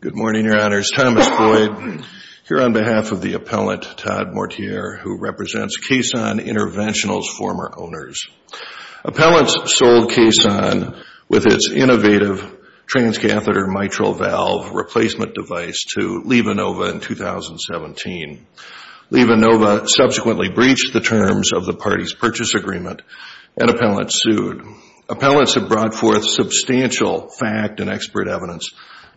Good morning, Your Honors. Thomas Boyd here on behalf of the appellant, Todd Mortier, who represents Kaysan Interventionals' former owners. Appellants sold Kaysan with its innovative transcatheter mitral valve replacement device to LivaNova in 2017. LivaNova subsequently breached the terms of the party's purchase agreement, and appellants sued. Appellants have brought forth substantial fact and expert evidence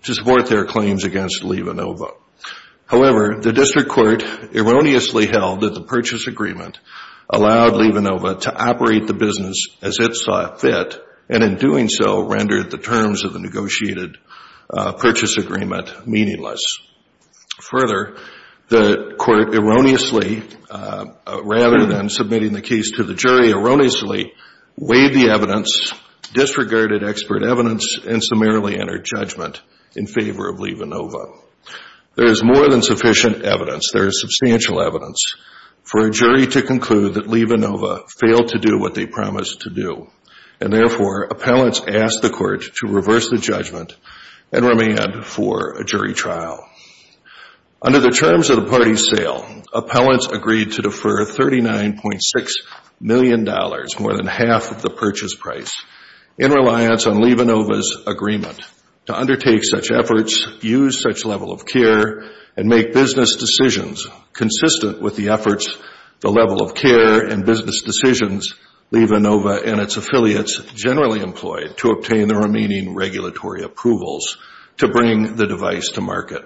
to support their claims against LivaNova. However, the district court erroneously held that the purchase agreement allowed LivaNova to operate the business as it saw fit, and in doing so, rendered the terms of the negotiated purchase agreement meaningless. Further, the court erroneously, rather than submitting the case to the jury, erroneously weighed the evidence, disregarded expert evidence, and summarily entered judgment in favor of LivaNova. There is more than sufficient evidence. There is substantial evidence for a jury to conclude that LivaNova failed to do what they promised to do, and therefore, appellants asked the court to reverse the judgment and remand for a jury trial. Under the terms of the party's sale, appellants agreed to defer $39.6 million, more than half of the purchase price, in reliance on LivaNova's agreement to undertake such efforts, use such level of care, and make business decisions consistent with the efforts, the level of care, and business decisions LivaNova and its affiliates generally employed to obtain the remaining regulatory approvals to bring the device to market.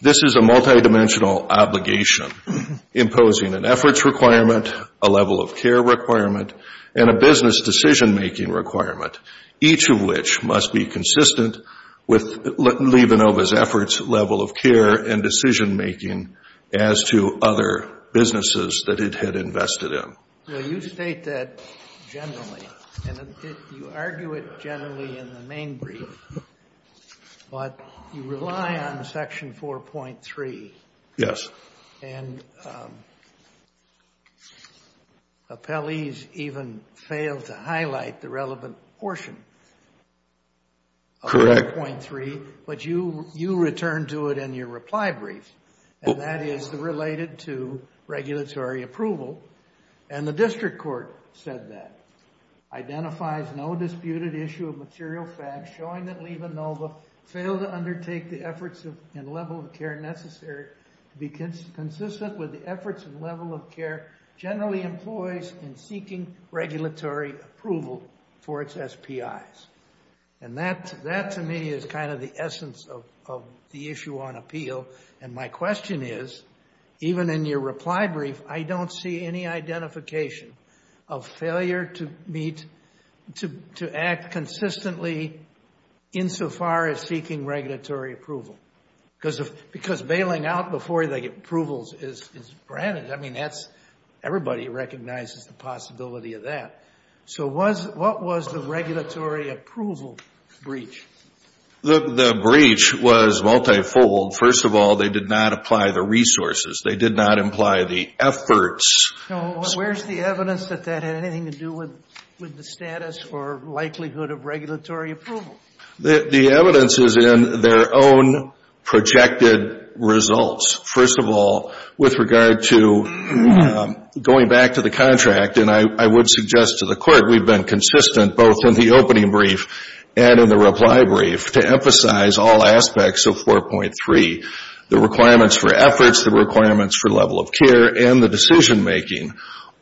This is a multidimensional obligation, imposing an efforts requirement, a level of care requirement, and a business decision-making requirement, each of which must be consistent with LivaNova's efforts, level of care, and decision making as to other businesses that it had invested in. Well, you state that generally, and you argue it generally in the main brief, but you rely on Section 4.3. Yes. And appellees even failed to highlight the relevant portion of 4.3. Correct. But you return to it in your reply brief, and that is related to regulatory approval. And the district court said that, identifies no disputed issue of material facts showing that LivaNova failed to undertake the efforts and level of care necessary to be consistent with the efforts and level of care generally employs in seeking regulatory approval for its SPIs. And that, to me, is kind of the essence of the issue on appeal. And my question is, even in your reply brief, I don't see any identification of failure to act consistently insofar as seeking regulatory approval, because bailing out before the approvals is granted. I mean, everybody recognizes the breach. The breach was multifold. First of all, they did not apply the resources. They did not imply the efforts. Where's the evidence that that had anything to do with the status or likelihood of regulatory approval? The evidence is in their own projected results. First of all, with regard to going back to the and in the reply brief to emphasize all aspects of 4.3, the requirements for efforts, the requirements for level of care, and the decision-making,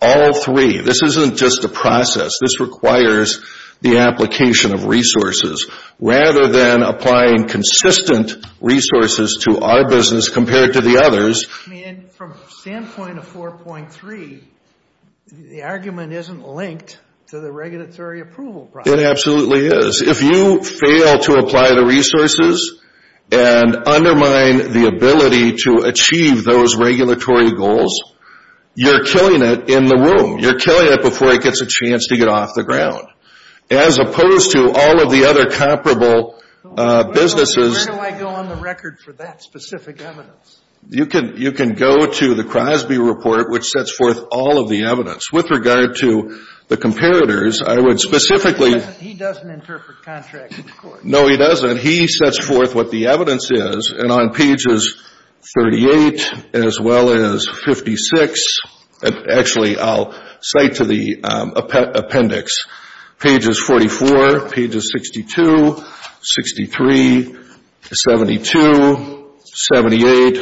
all three, this isn't just a process. This requires the application of resources. Rather than applying consistent resources to our business compared to the others. I mean, from a standpoint of 4.3, the argument isn't linked to the regulatory approval process. It absolutely is. If you fail to apply the resources and undermine the ability to achieve those regulatory goals, you're killing it in the room. You're killing it before it gets a chance to get off the ground. As opposed to all of the other comparable businesses. Where do I go on the record for that specific evidence? You can go to the Crosby report, which sets forth all of the evidence. With regard to the He doesn't interpret contracts in this court. No, he doesn't. He sets forth what the evidence is. And on pages 38 as well as 56, and actually I'll cite to the appendix, pages 44, pages 62, 63, 72, 78,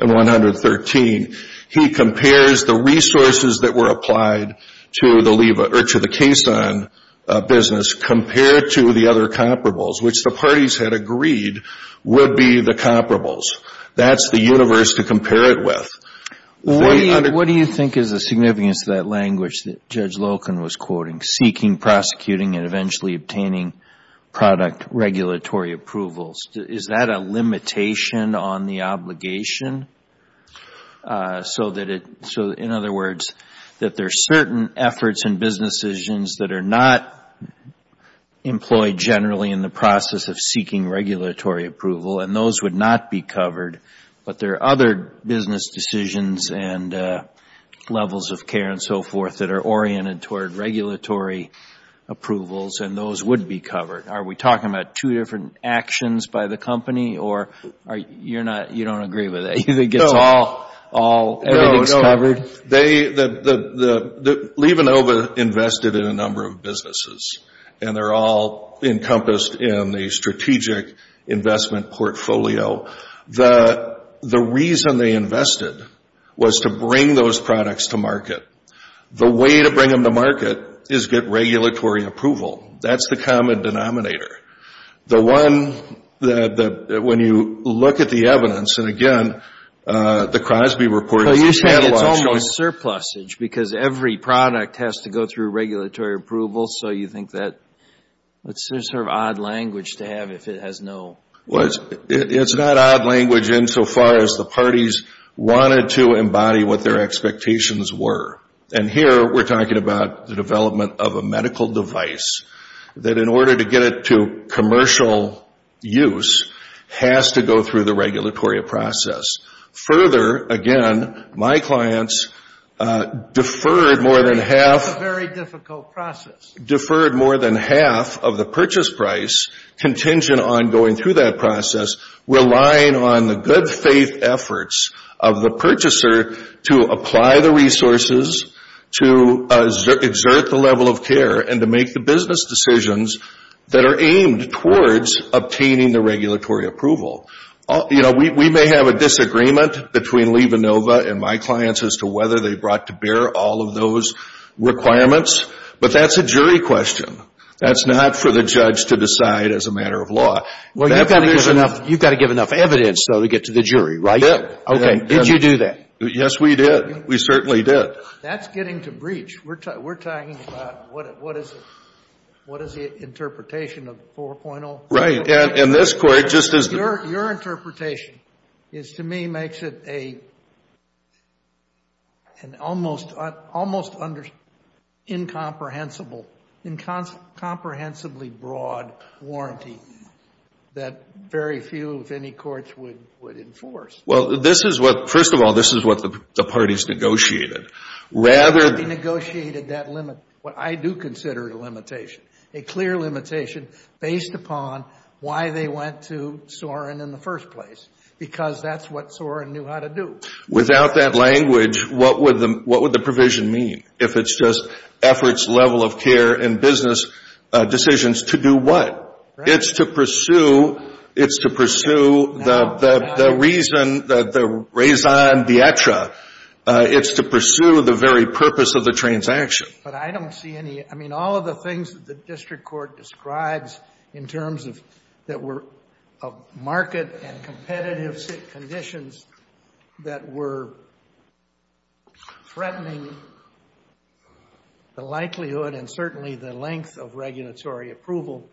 and 113. He compares the resources that were applied to the Kason business compared to the other comparables, which the parties had agreed would be the comparables. That's the universe to compare it with. What do you think is the significance of that language that Judge Loken was quoting? Seeking, prosecuting, and eventually obtaining product regulatory approvals. Is that a limitation on the obligation? In other words, that there are certain efforts and business decisions that are not employed generally in the process of seeking regulatory approval, and those would not be covered. But there are other business decisions and levels of care and so forth that are oriented toward regulatory approvals, and those would be covered. Are we talking about two different actions by the company, or you don't agree with that? You think it's all covered? No. Levenova invested in a number of businesses, and they're all encompassed in the strategic investment portfolio. The reason they invested was to bring those products to market. The way to bring them to market is get regulatory approval. That's the common denominator. The one that, when you look at the evidence, and again, the Crosby report is a catalog... So you're saying it's almost surplusage because every product has to go through regulatory approval, so you think that's sort of odd language to have if it has no... It's not odd language insofar as the parties wanted to embody what their expectations were. Here, we're talking about the development of a medical device that, in order to get it to commercial use, has to go through the regulatory process. Further, again, my clients deferred more than half... It's a very difficult process. Deferred more than half of the purchase price contingent on going through that process, relying on the good faith efforts of the purchaser to apply the resources, to exert the level of care, and to make the business decisions that are aimed towards obtaining the regulatory approval. We may have a disagreement between Lee Vanova and my clients as to whether they brought to bear all of those requirements, but that's a jury question. That's not for the judge to decide as a matter of law. Well, you've got to give enough evidence, though, to get to the jury, right? Yeah. Okay. Did you do that? Yes, we did. We certainly did. That's getting to breach. We're talking about what is the interpretation of 4.0? Right. And this court just is... Your interpretation is, to me, makes it an almost incomprehensibly broad warranty that very few, if any, courts would enforce. Well, this is what... First of all, this is what the parties negotiated. Rather... They negotiated that limit, what I do consider a limitation, a clear limitation based upon why they went to Sorin in the first place, because that's what Sorin knew how to do. Without that language, what would the provision mean? If it's just efforts, level of care, and business decisions, to do what? It's to pursue the reason, the raison d'etre. It's to pursue the very purpose of the transaction. But I don't see any... I mean, all of the things that the district court describes in terms of market and competitive conditions that were threatening the likelihood and certainly the length of regulatory approval,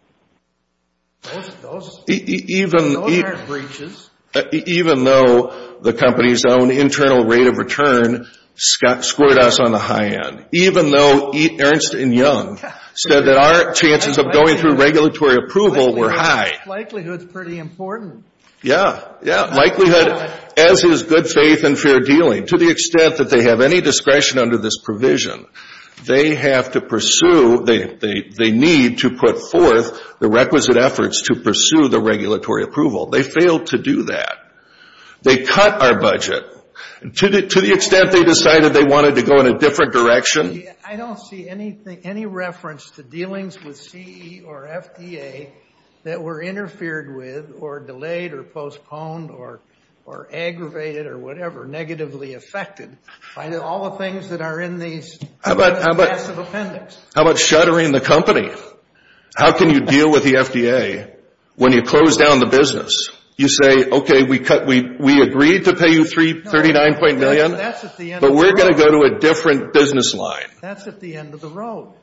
those aren't breaches. Even though the company's own internal rate of return scored us on the high end. Even though Ernst & Young said that our chances of going through regulatory approval were high. Likelihood's pretty important. Yeah, yeah. Likelihood, as is good faith and fair dealing. To the extent that they have any discretion under this provision, they have to pursue, they need to put forth the requisite efforts to pursue the regulatory approval. They failed to do that. They cut our budget to the extent they decided they wanted to go in a different direction. I don't see any reference to dealings with CE or FDA that were interfered with, or delayed, or postponed, or aggravated, or whatever, negatively affected, by all the things that are in these massive appendix. How about shuttering the company? How can you deal with the FDA when you close down the business? You say, okay, we agreed to pay you $39.9 million, but we're going to go to a different business line. That's at the end of the road.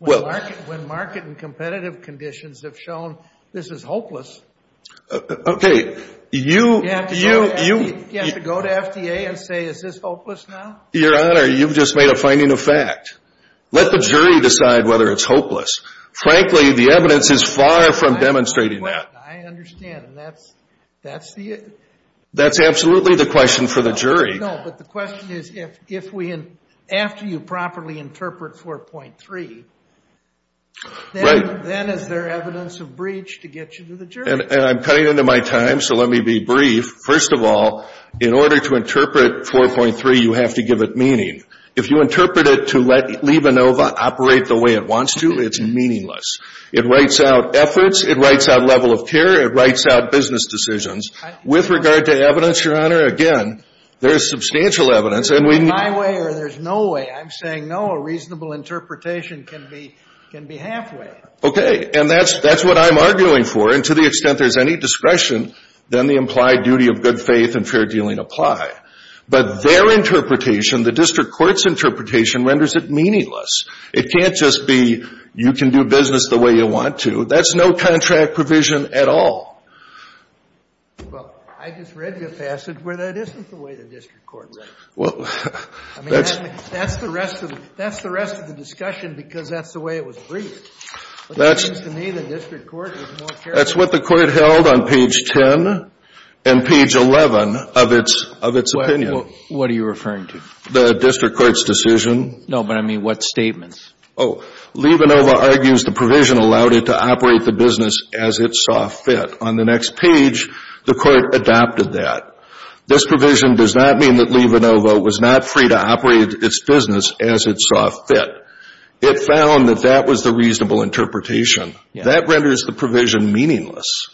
When market and competitive conditions have shown, this is hopeless, you have to go to FDA and say, is this hopeless now? Your Honor, you've just made a finding of fact. Let the jury decide whether it's hopeless. Frankly, the evidence is far from demonstrating that. I understand. That's the... That's absolutely the question for the jury. No, but the question is, if we, after you properly interpret 4.3, then is there evidence of breach to get you to the jury? And I'm cutting into my time, so let me be brief. First of all, in order to interpret 4.3, you have to give it meaning. If you interpret it to leave Inova, operate the way it wants to, it's meaningless. It writes out efforts, it writes out level of care, it writes out business decisions. With regard to evidence, Your Honor, again, there's substantial evidence and we... There's my way or there's no way. I'm saying, no, a reasonable interpretation can be halfway. Okay. And that's what I'm arguing for. And to the extent there's any discretion, then the implied duty of good faith and fair dealing apply. But their interpretation, the district court's interpretation renders it meaningless. It can't just be, you can do business the way you want to. That's no contract provision at all. Well, I just read your passage where that isn't the way the district court writes. Well, that's... I mean, that's the rest of the discussion because that's the way it was briefed. But it seems to me the district court is more... That's what the court held on page 10 and page 11 of its opinion. What are you referring to? The district court's decision. No, but I mean, what statements? Oh, leave Inova argues the provision allowed it to operate the business as it saw fit. On the next page, the court adopted that. This provision does not mean that leave Inova was not free to operate its business as it saw fit. It found that that was the reasonable interpretation. That renders the provision meaningless.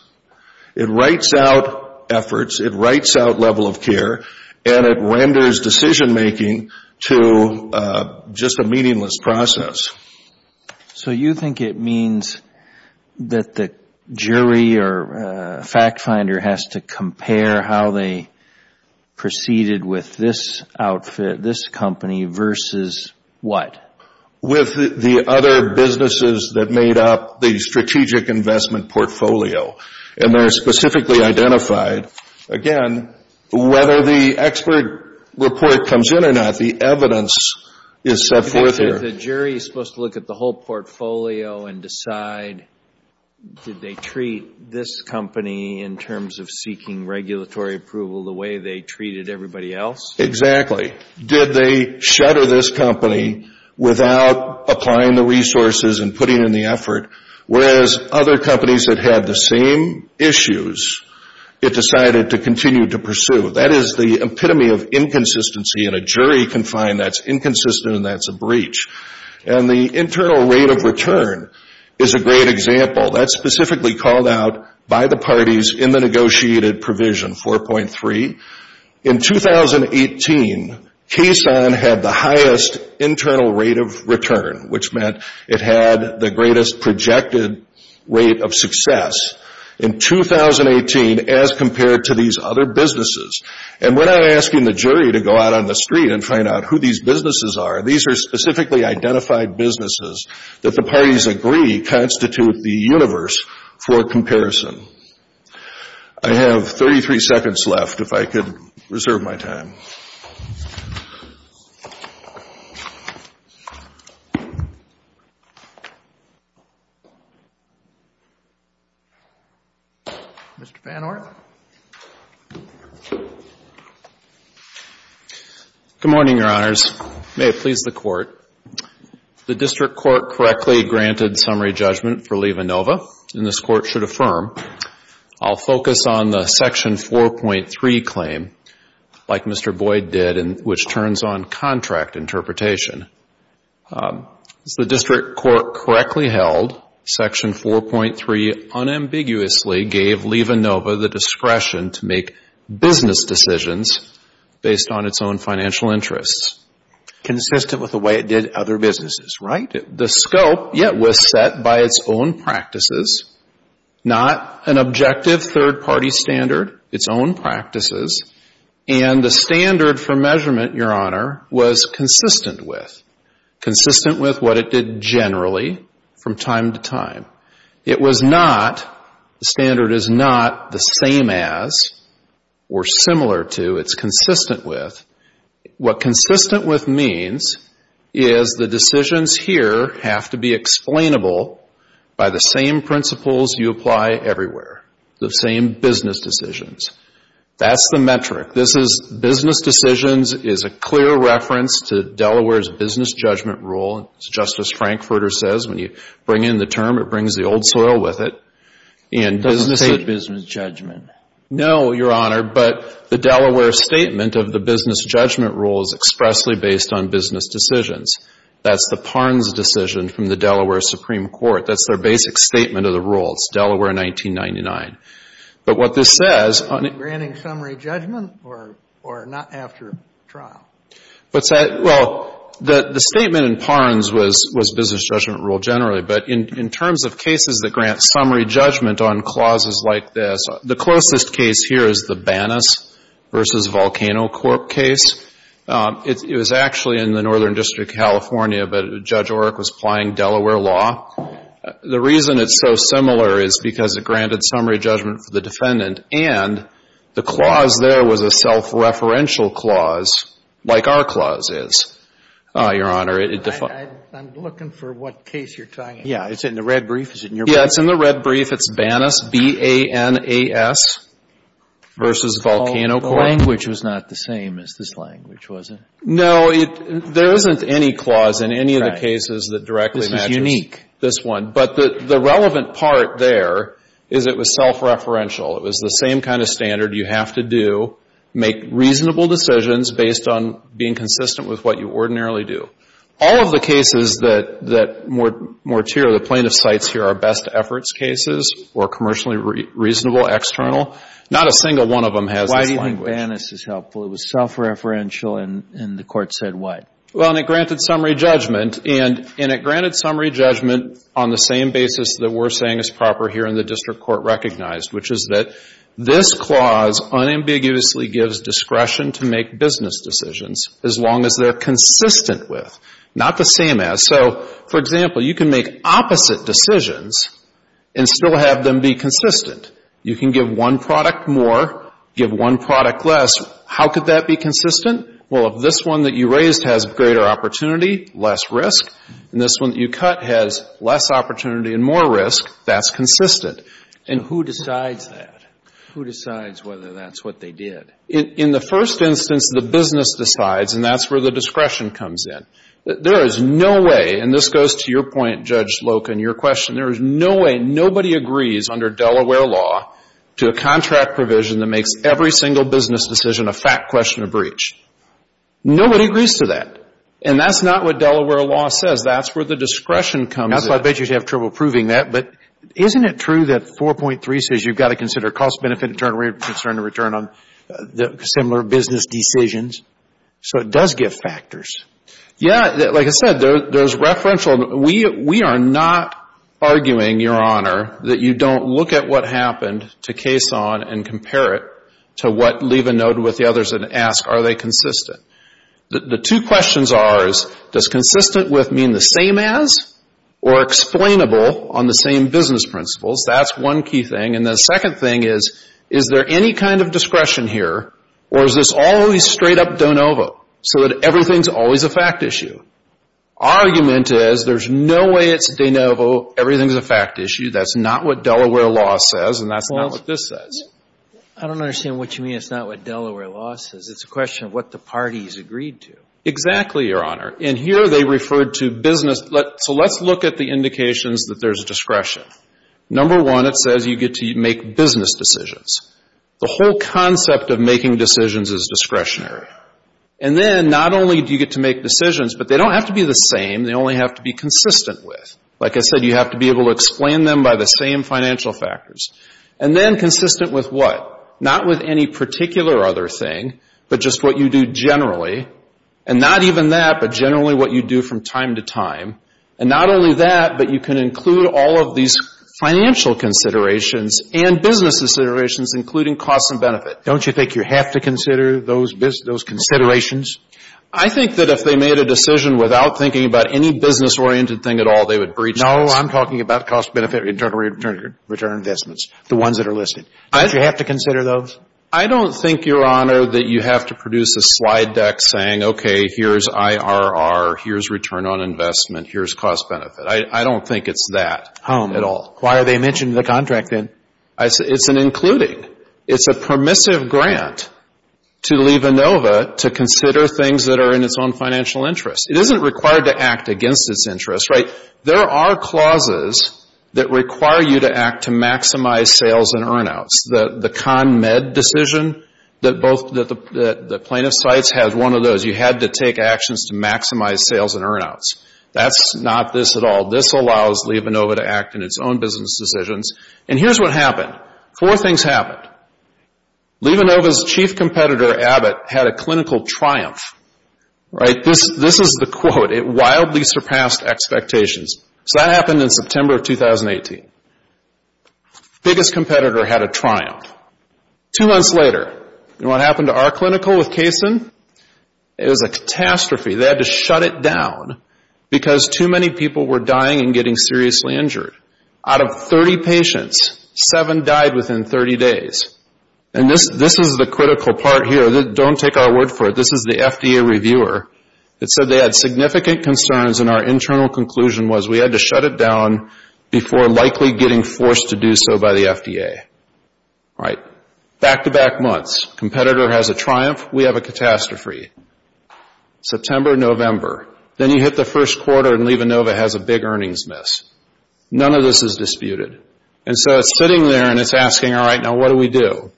It writes out efforts. It writes out level of care. And it renders decision-making to just a meaningless process. So you think it means that the jury or fact finder has to compare how they proceeded with this outfit, this company versus what? With the other businesses that made up the strategic investment portfolio. And they're specifically identified. Again, whether the expert report comes in or not, the evidence is set forth here. The jury is supposed to look at the whole portfolio and decide, did they treat this company in terms of seeking regulatory approval the way they treated everybody else? Exactly. Did they shutter this company without applying the resources and putting in the effort? Whereas other companies that had the same issues, it decided to continue to pursue. That is the epitome of inconsistency. And a jury can find that's inconsistent and that's a breach. And the internal rate of return is a great example. That's specifically called out by the parties in the negotiated provision 4.3. In 2018, Kaysan had the highest internal rate of return, which meant it had the greatest projected rate of success in 2018 as compared to these other businesses. And we're not asking the jury to go out on the street and find out who these businesses are. These are specifically identified businesses that the parties agree constitute the universe for comparison. I have 33 seconds left, if I could reserve my time. Mr. Van Orn. Good morning, Your Honors. May it please the Court. The District Court correctly granted summary judgment for LevaNova, and this Court should affirm. I'll focus on the Section 4.3 claim, like Mr. Boyd did, and which turns on contract interpretation. As the District Court correctly held, Section 4.3 unambiguously gave LevaNova the discretion to make business decisions based on its own financial interests. Consistent with the way it did other businesses, right? The scope, yeah, was set by its own practices, not an objective third-party standard, its own practices. And the standard for measurement, Your Honor, was consistent with. Consistent with what it did generally from time to time. It was not, the standard is not the same as or similar to, it's consistent with. What consistent with means is the decisions here have to be explainable by the same principles you apply everywhere. The same business decisions. That's the metric. This is business decisions is a clear reference to Delaware's business judgment rule. Justice Frankfurter says when you bring in the term, it brings the old soil with it. It doesn't state business judgment. No, Your Honor. But the Delaware statement of the business judgment rule is expressly based on business decisions. That's the Parnes decision from the Delaware Supreme Court. That's their basic statement of the rule. It's Delaware 1999. But what this says... Are you granting summary judgment or not after trial? What's that? Well, the statement in Parnes was business judgment rule generally. But in terms of cases that grant summary judgment on clauses like this, the closest case here is the Banas v. Volcano Court case. It was actually in the Northern District of California, but Judge Oreck was applying Delaware law. The reason it's so similar is because it granted summary judgment for the defendant and the clause there was a self-referential clause like our clause is, Your Honor. I'm looking for what case you're talking about. Yeah. Is it in the red brief? Is it in your brief? Yeah. It's in the red brief. It's Banas, B-A-N-A-S, versus Volcano Court. The language was not the same as this language, was it? No. There isn't any clause in any of the cases that directly matches this one. But the relevant part there is it was self-referential. It was the same kind of standard. You have to do, make reasonable decisions based on being consistent with what you ordinarily do. All of the cases that Mortier, the plaintiff, cites here are best efforts cases or commercially reasonable external. Not a single one of them has this language. Why do you think Banas is helpful? It was self-referential and the court said what? Well, and it granted summary judgment. And it granted summary judgment on the same basis that we're saying is proper here in this clause unambiguously gives discretion to make business decisions as long as they're consistent with, not the same as. So, for example, you can make opposite decisions and still have them be consistent. You can give one product more, give one product less. How could that be consistent? Well, if this one that you raised has greater opportunity, less risk, and this one that you cut has less opportunity and more risk, that's consistent. And who decides that? Who decides whether that's what they did? In the first instance, the business decides and that's where the discretion comes in. There is no way, and this goes to your point, Judge Loken, your question, there is no way, nobody agrees under Delaware law to a contract provision that makes every single business decision a fact question of breach. Nobody agrees to that. And that's not what Delaware law says. That's where the discretion comes in. I bet you have trouble proving that. But isn't it true that 4.3 says you've got to consider cost-benefit concern to return on similar business decisions? So it does give factors. Yeah. Like I said, those referential, we are not arguing, Your Honor, that you don't look at what happened to case on and compare it to what, leave a note with the others and ask, are they consistent? The two questions are, does consistent with mean the same as or explainable on the same business principles? That's one key thing. And the second thing is, is there any kind of discretion here or is this always straight up de novo so that everything's always a fact issue? Argument is there's no way it's de novo, everything's a fact issue. That's not what Delaware law says and that's not what this says. I don't understand what you mean it's not what Delaware law says. It's a question of what the parties agreed to. Exactly, Your Honor. And here they referred to business. So let's look at the indications that there's discretion. Number one, it says you get to make business decisions. The whole concept of making decisions is discretionary. And then not only do you get to make decisions, but they don't have to be the same, they only have to be consistent with. Like I said, you have to be able to explain them by the same financial factors. And then consistent with what? Not with any particular other thing, but just what you do generally. And not even that, but generally what you do from time to time. And not only that, but you can include all of these financial considerations and business considerations, including cost and benefit. Don't you think you have to consider those considerations? I think that if they made a decision without thinking about any business-oriented thing at all, they would breach those. No, I'm talking about cost-benefit return investments, the ones that are listed. Do you have to consider those? I don't think, Your Honor, that you have to produce a slide deck saying, okay, here's IRR, here's return on investment, here's cost-benefit. I don't think it's that at all. Oh, why are they mentioning the contract then? It's an including. It's a permissive grant to leave ANOVA to consider things that are in its own financial interest. It isn't required to act against its interest, right? There are clauses that require you to act to maximize sales and earnouts. The CONMED decision that the plaintiff cites has one of those. You had to take actions to maximize sales and earnouts. That's not this at all. This allows leave ANOVA to act in its own business decisions. And here's what happened. Four things happened. Leave ANOVA's chief competitor, Abbott, had a clinical triumph, right? This is the quote. It wildly surpassed expectations. So that happened in September of 2018. Biggest competitor had a triumph. Two months later, you know what happened to our clinical with Kaysen? It was a catastrophe. They had to shut it down because too many people were dying and getting seriously injured. Out of 30 patients, seven died within 30 days. And this is the critical part here. Don't take our word for it. This is the FDA reviewer. It said they had significant concerns and our internal conclusion was we had to shut it down before likely getting forced to do so by the FDA. All right. Back-to-back months. Competitor has a triumph. We have a catastrophe. September, November. Then you hit the first quarter and leave ANOVA has a big earnings miss. None of this is disputed. And so it's sitting there and it's asking, all right, now what do we do?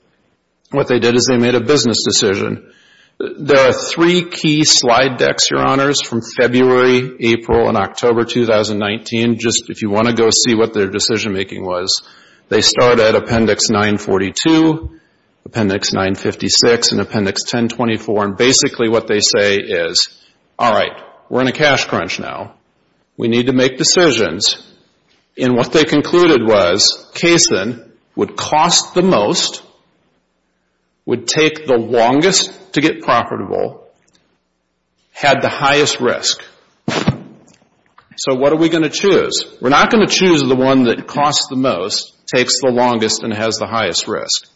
What they did is they made a business decision. There are three key slide decks, your honors, from February, April, and October 2019. Just if you want to go see what their decision making was. They start at Appendix 942, Appendix 956, and Appendix 1024. And basically what they say is, all right, we're in a cash crunch now. We need to make decisions. And what they concluded was Kaysen would cost the most, would take the longest to get profitable, had the highest risk. So what are we going to choose? We're not going to choose the one that costs the most, takes the longest, and has the highest risk.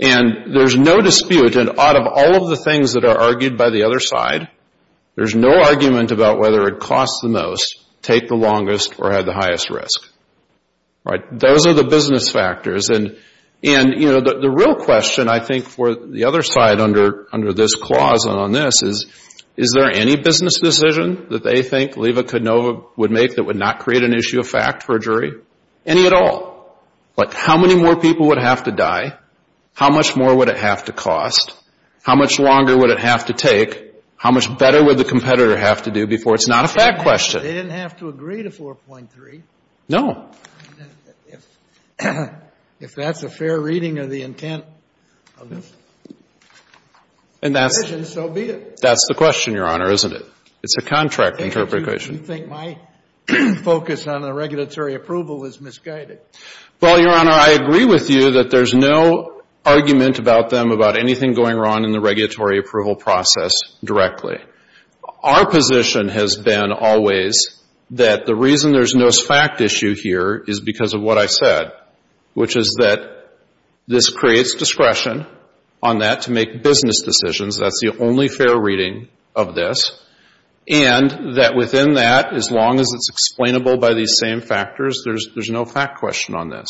And there's no dispute. And out of all of the things that are argued by the other side, there's no argument about whether it costs the most, take the longest, or had the highest risk. All right. Those are the business factors. And the real question, I think, for the other side under this clause and on this is, is there any business decision that they think Leva-Konova would make that would not create an issue of fact for a jury? Any at all. But how many more people would have to die? How much more would it have to cost? How much longer would it have to take? How much better would the competitor have to do before it's not a fact question? They didn't have to agree to 4.3. No. If that's a fair reading of the intent of this decision, so be it. That's the question, Your Honor, isn't it? It's a contract interpretation. You think my focus on the regulatory approval is misguided. Well, Your Honor, I agree with you that there's no argument about them, about anything going wrong in the regulatory approval process directly. Our position has been always that the reason there's no fact issue here is because of what I said, which is that this creates discretion on that to make business decisions. That's the only fair reading of this. And that within that, as long as it's explainable by these same factors, there's no fact question on this.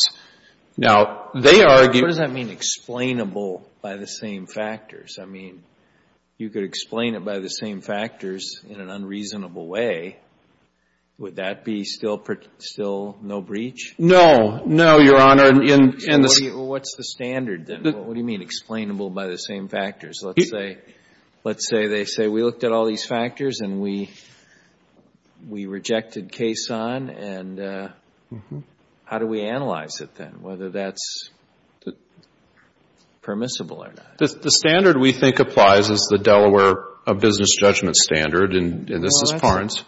Now, they argue... What does that mean, explainable by the same factors? I mean, you could explain it by the same factors in an unreasonable way. Would that be still no breach? No. No, Your Honor. What's the standard then? What do you mean explainable by the same factors? Let's say they say, we looked at all these factors and we rejected case on, and how do we analyze it then, whether that's permissible or not? The standard we think applies is the Delaware Business Judgment Standard, and this is Farns.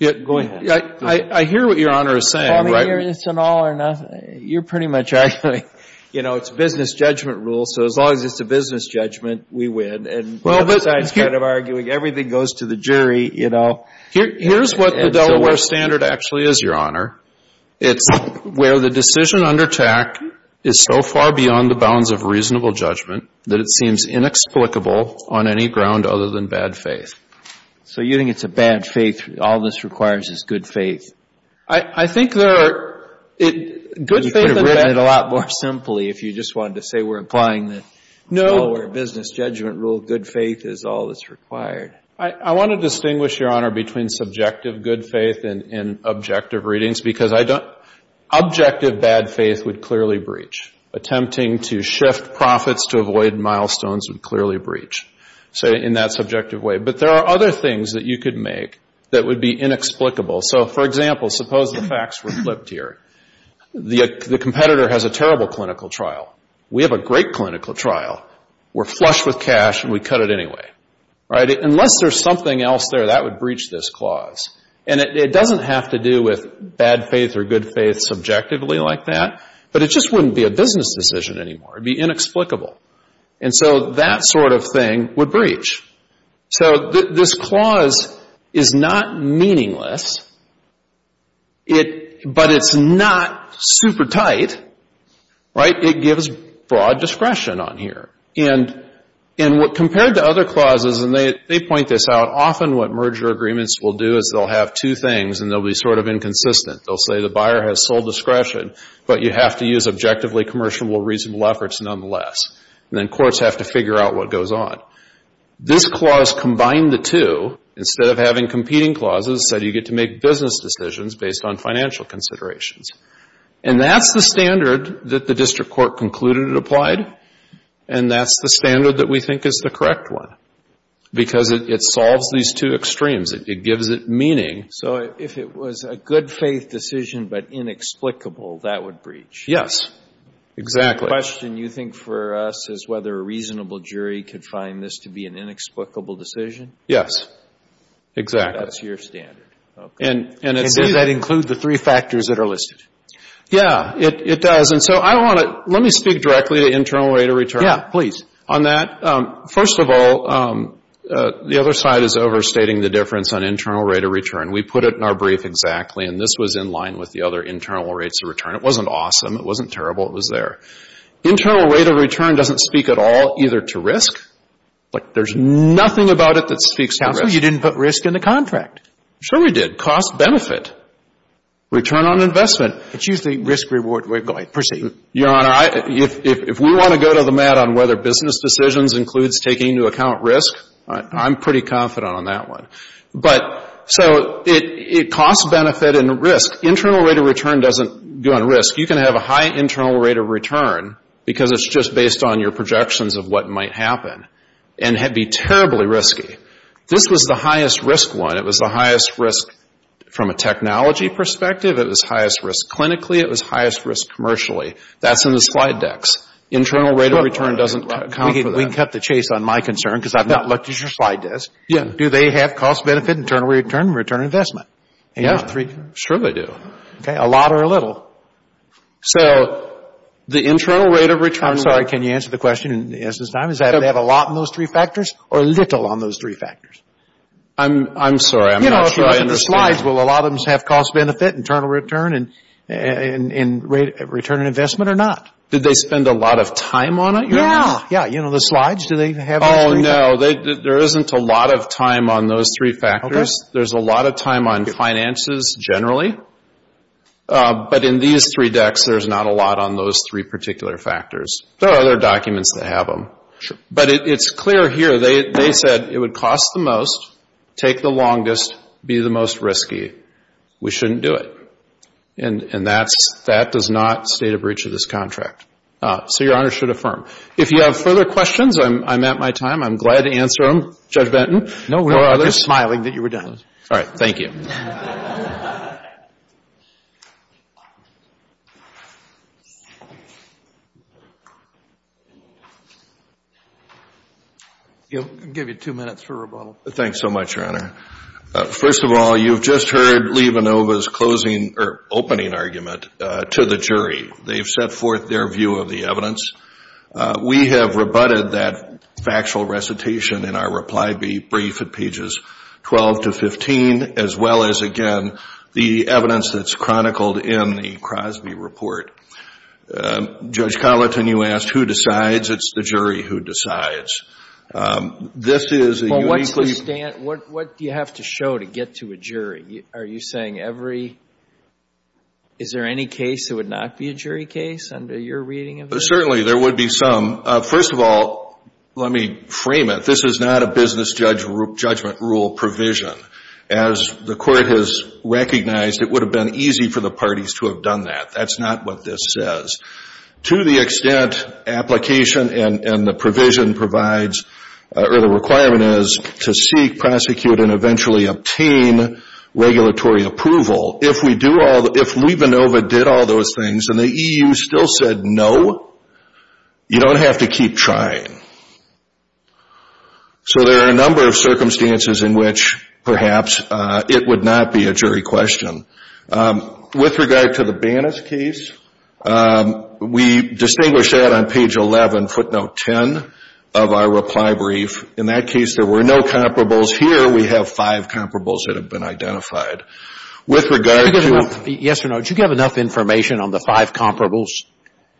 Go ahead. I hear what Your Honor is saying, right? I mean, it's an all or nothing. You're pretty much arguing, you know, it's a business judgment rule, so as long as it's a business judgment, we win. And the other side is kind of arguing everything goes to the jury, you know. Here's what the Delaware standard actually is, Your Honor. It's where the decision under TAC is so far beyond the bounds of reasonable judgment that it seems inexplicable on any ground other than bad faith. So you think it's a bad faith, all this requires is good faith? I think there are... You could have written it a lot more simply if you just wanted to say, we're applying the Delaware business judgment rule, good faith is all that's required. I want to distinguish, Your Honor, between subjective good faith and objective readings, because objective bad faith would clearly breach. Attempting to shift profits to avoid milestones would clearly breach, say, in that subjective way. There are other things that you could make that would be inexplicable. So, for example, suppose the facts were flipped here. The competitor has a terrible clinical trial. We have a great clinical trial. We're flush with cash and we cut it anyway. Unless there's something else there, that would breach this clause. And it doesn't have to do with bad faith or good faith subjectively like that, but it just wouldn't be a business decision anymore. It would be inexplicable. And so that sort of thing would breach. So this clause is not meaningless, but it's not super tight, right? It gives broad discretion on here. And compared to other clauses, and they point this out, often what merger agreements will do is they'll have two things and they'll be sort of inconsistent. They'll say the buyer has sole discretion, but you have to use objectively commercial reasonable efforts nonetheless. And then courts have to figure out what goes on. This clause combined the two, instead of having competing clauses, said you get to make business decisions based on financial considerations. And that's the standard that the district court concluded it applied. And that's the standard that we think is the correct one. Because it solves these two extremes. It gives it meaning. So if it was a good faith decision, but inexplicable, that would breach? Yes, exactly. The question you think for us is whether a reasonable jury could find this to be an inexplicable decision? Yes, exactly. That's your standard. And does that include the three factors that are listed? Yeah, it does. And so I want to, let me speak directly to internal rate of return. Yeah, please. On that, first of all, the other side is overstating the difference on internal rate of return. We put it in our brief exactly. And this was in line with the other internal rates of return. It wasn't awesome. It wasn't terrible. It was there. Internal rate of return doesn't speak at all either to risk. There's nothing about it that speaks to risk. You didn't put risk in the contract. Sure we did. Cost-benefit. Return on investment. It's usually risk-reward. Go ahead. Proceed. Your Honor, if we want to go to the mat on whether business decisions includes taking into account risk, I'm pretty confident on that one. But so it costs benefit and risk. Internal rate of return doesn't go on risk. You can have a high internal rate of return because it's just based on your projections of what might happen and be terribly risky. This was the highest risk one. It was the highest risk from a technology perspective. It was highest risk clinically. It was highest risk commercially. That's in the slide decks. Internal rate of return doesn't account for that. We can cut the chase on my concern because I've not looked at your slide desk. Yeah. Do they have cost-benefit, internal return, and return on investment? Yeah. Sure they do. Okay. A lot or a little. So the internal rate of return... I'm sorry. Can you answer the question in an instance of time? Is that they have a lot in those three factors or little on those three factors? I'm sorry. I'm not sure I understand. You know, if you look at the slides, will a lot of them have cost-benefit, internal return, and return on investment or not? Did they spend a lot of time on it, Your Honor? Yeah. Yeah. You know, the slides, do they have those three factors? Oh, no. There isn't a lot of time on those three factors. There's a lot of time on finances generally. But in these three decks, there's not a lot on those three particular factors. There are other documents that have them. Sure. But it's clear here. They said it would cost the most, take the longest, be the most risky. We shouldn't do it. And that does not state a breach of this contract. So Your Honor should affirm. If you have further questions, I'm at my time. I'm glad to answer them, Judge Benton. No, we were just smiling that you were done. All right. Thank you. I'll give you two minutes for rebuttal. Thanks so much, Your Honor. First of all, you've just heard Lee Vanova's opening argument to the jury. They've set forth their view of the evidence. We have rebutted that factual recitation in our reply brief at pages 12 to 15, as well as, again, the evidence that's chronicled in the Crosby report. Judge Colleton, you asked, who decides? It's the jury who decides. This is a uniquely— Well, what's the stand—what do you have to show to get to a jury? Are you saying every—is there any case that would not be a jury case under your reading of this? Certainly, there would be some. First of all, let me frame it. This is not a business judgment rule provision. As the Court has recognized, it would have been easy for the parties to have done that. That's not what this says. To the extent application and the provision provides—or the requirement is to seek, prosecute, and eventually obtain regulatory approval, if we do all—if Lee Vanova did all those things and the EU still said no, you don't have to keep trying. So, there are a number of circumstances in which, perhaps, it would not be a jury question. With regard to the Bannas case, we distinguish that on page 11, footnote 10, of our reply brief. In that case, there were no comparables. Here, we have five comparables that have been identified. With regard to— Did you give enough—yes or no, did you give enough information on the five comparables?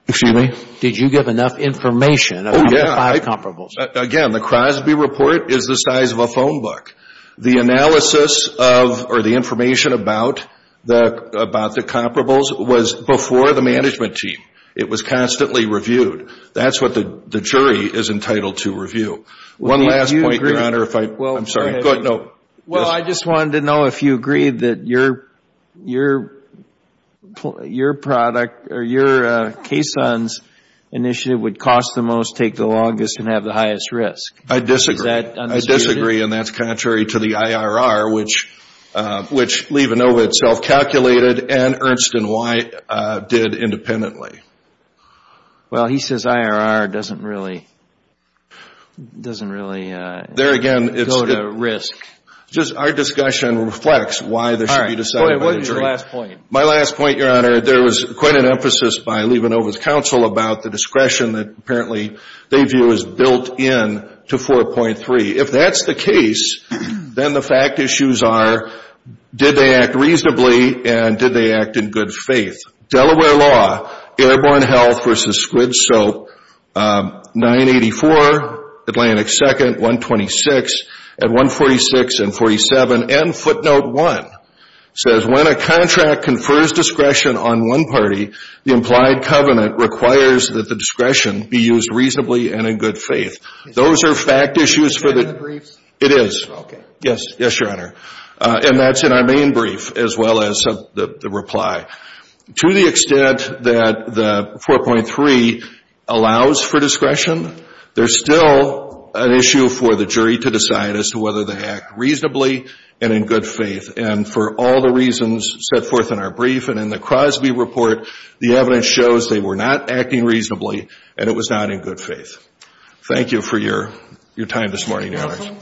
Excuse me? Did you give enough information about the five comparables? Again, the Crosby report is the size of a phone book. The analysis of—or the information about the comparables was before the management team. It was constantly reviewed. That's what the jury is entitled to review. One last point, Your Honor, if I—I'm sorry. Go ahead. No. Well, I just wanted to know if you agreed that your product or your initiative would cost the most, take the longest, and have the highest risk. I disagree. Is that understood? I disagree, and that's contrary to the IRR, which Levenova itself calculated, and Ernst & White did independently. Well, he says IRR doesn't really—doesn't really go to risk. Our discussion reflects why there should be decided by the jury. All right, what was your last point? My last point, Your Honor, there was quite an emphasis by Levenova's counsel about the discretion that apparently they view as built in to 4.3. If that's the case, then the fact issues are did they act reasonably and did they act in good faith? Delaware law, airborne health versus squid soap, 984, Atlantic 2nd, 126, and 146 and 47, and footnote 1 says when a contract confers discretion on one party, the implied covenant requires that the discretion be used reasonably and in good faith. Those are fact issues for the— Are they in the briefs? It is. Okay. Yes. Yes, Your Honor. And that's in our main brief as well as the reply. To the extent that the 4.3 allows for discretion, there's still an issue for the jury to decide as to whether they act reasonably and in good faith. And for all the reasons set forth in our brief and in the Crosby report, the evidence shows they were not acting reasonably and it was not in good faith. Thank you for your time this morning, Your Honor.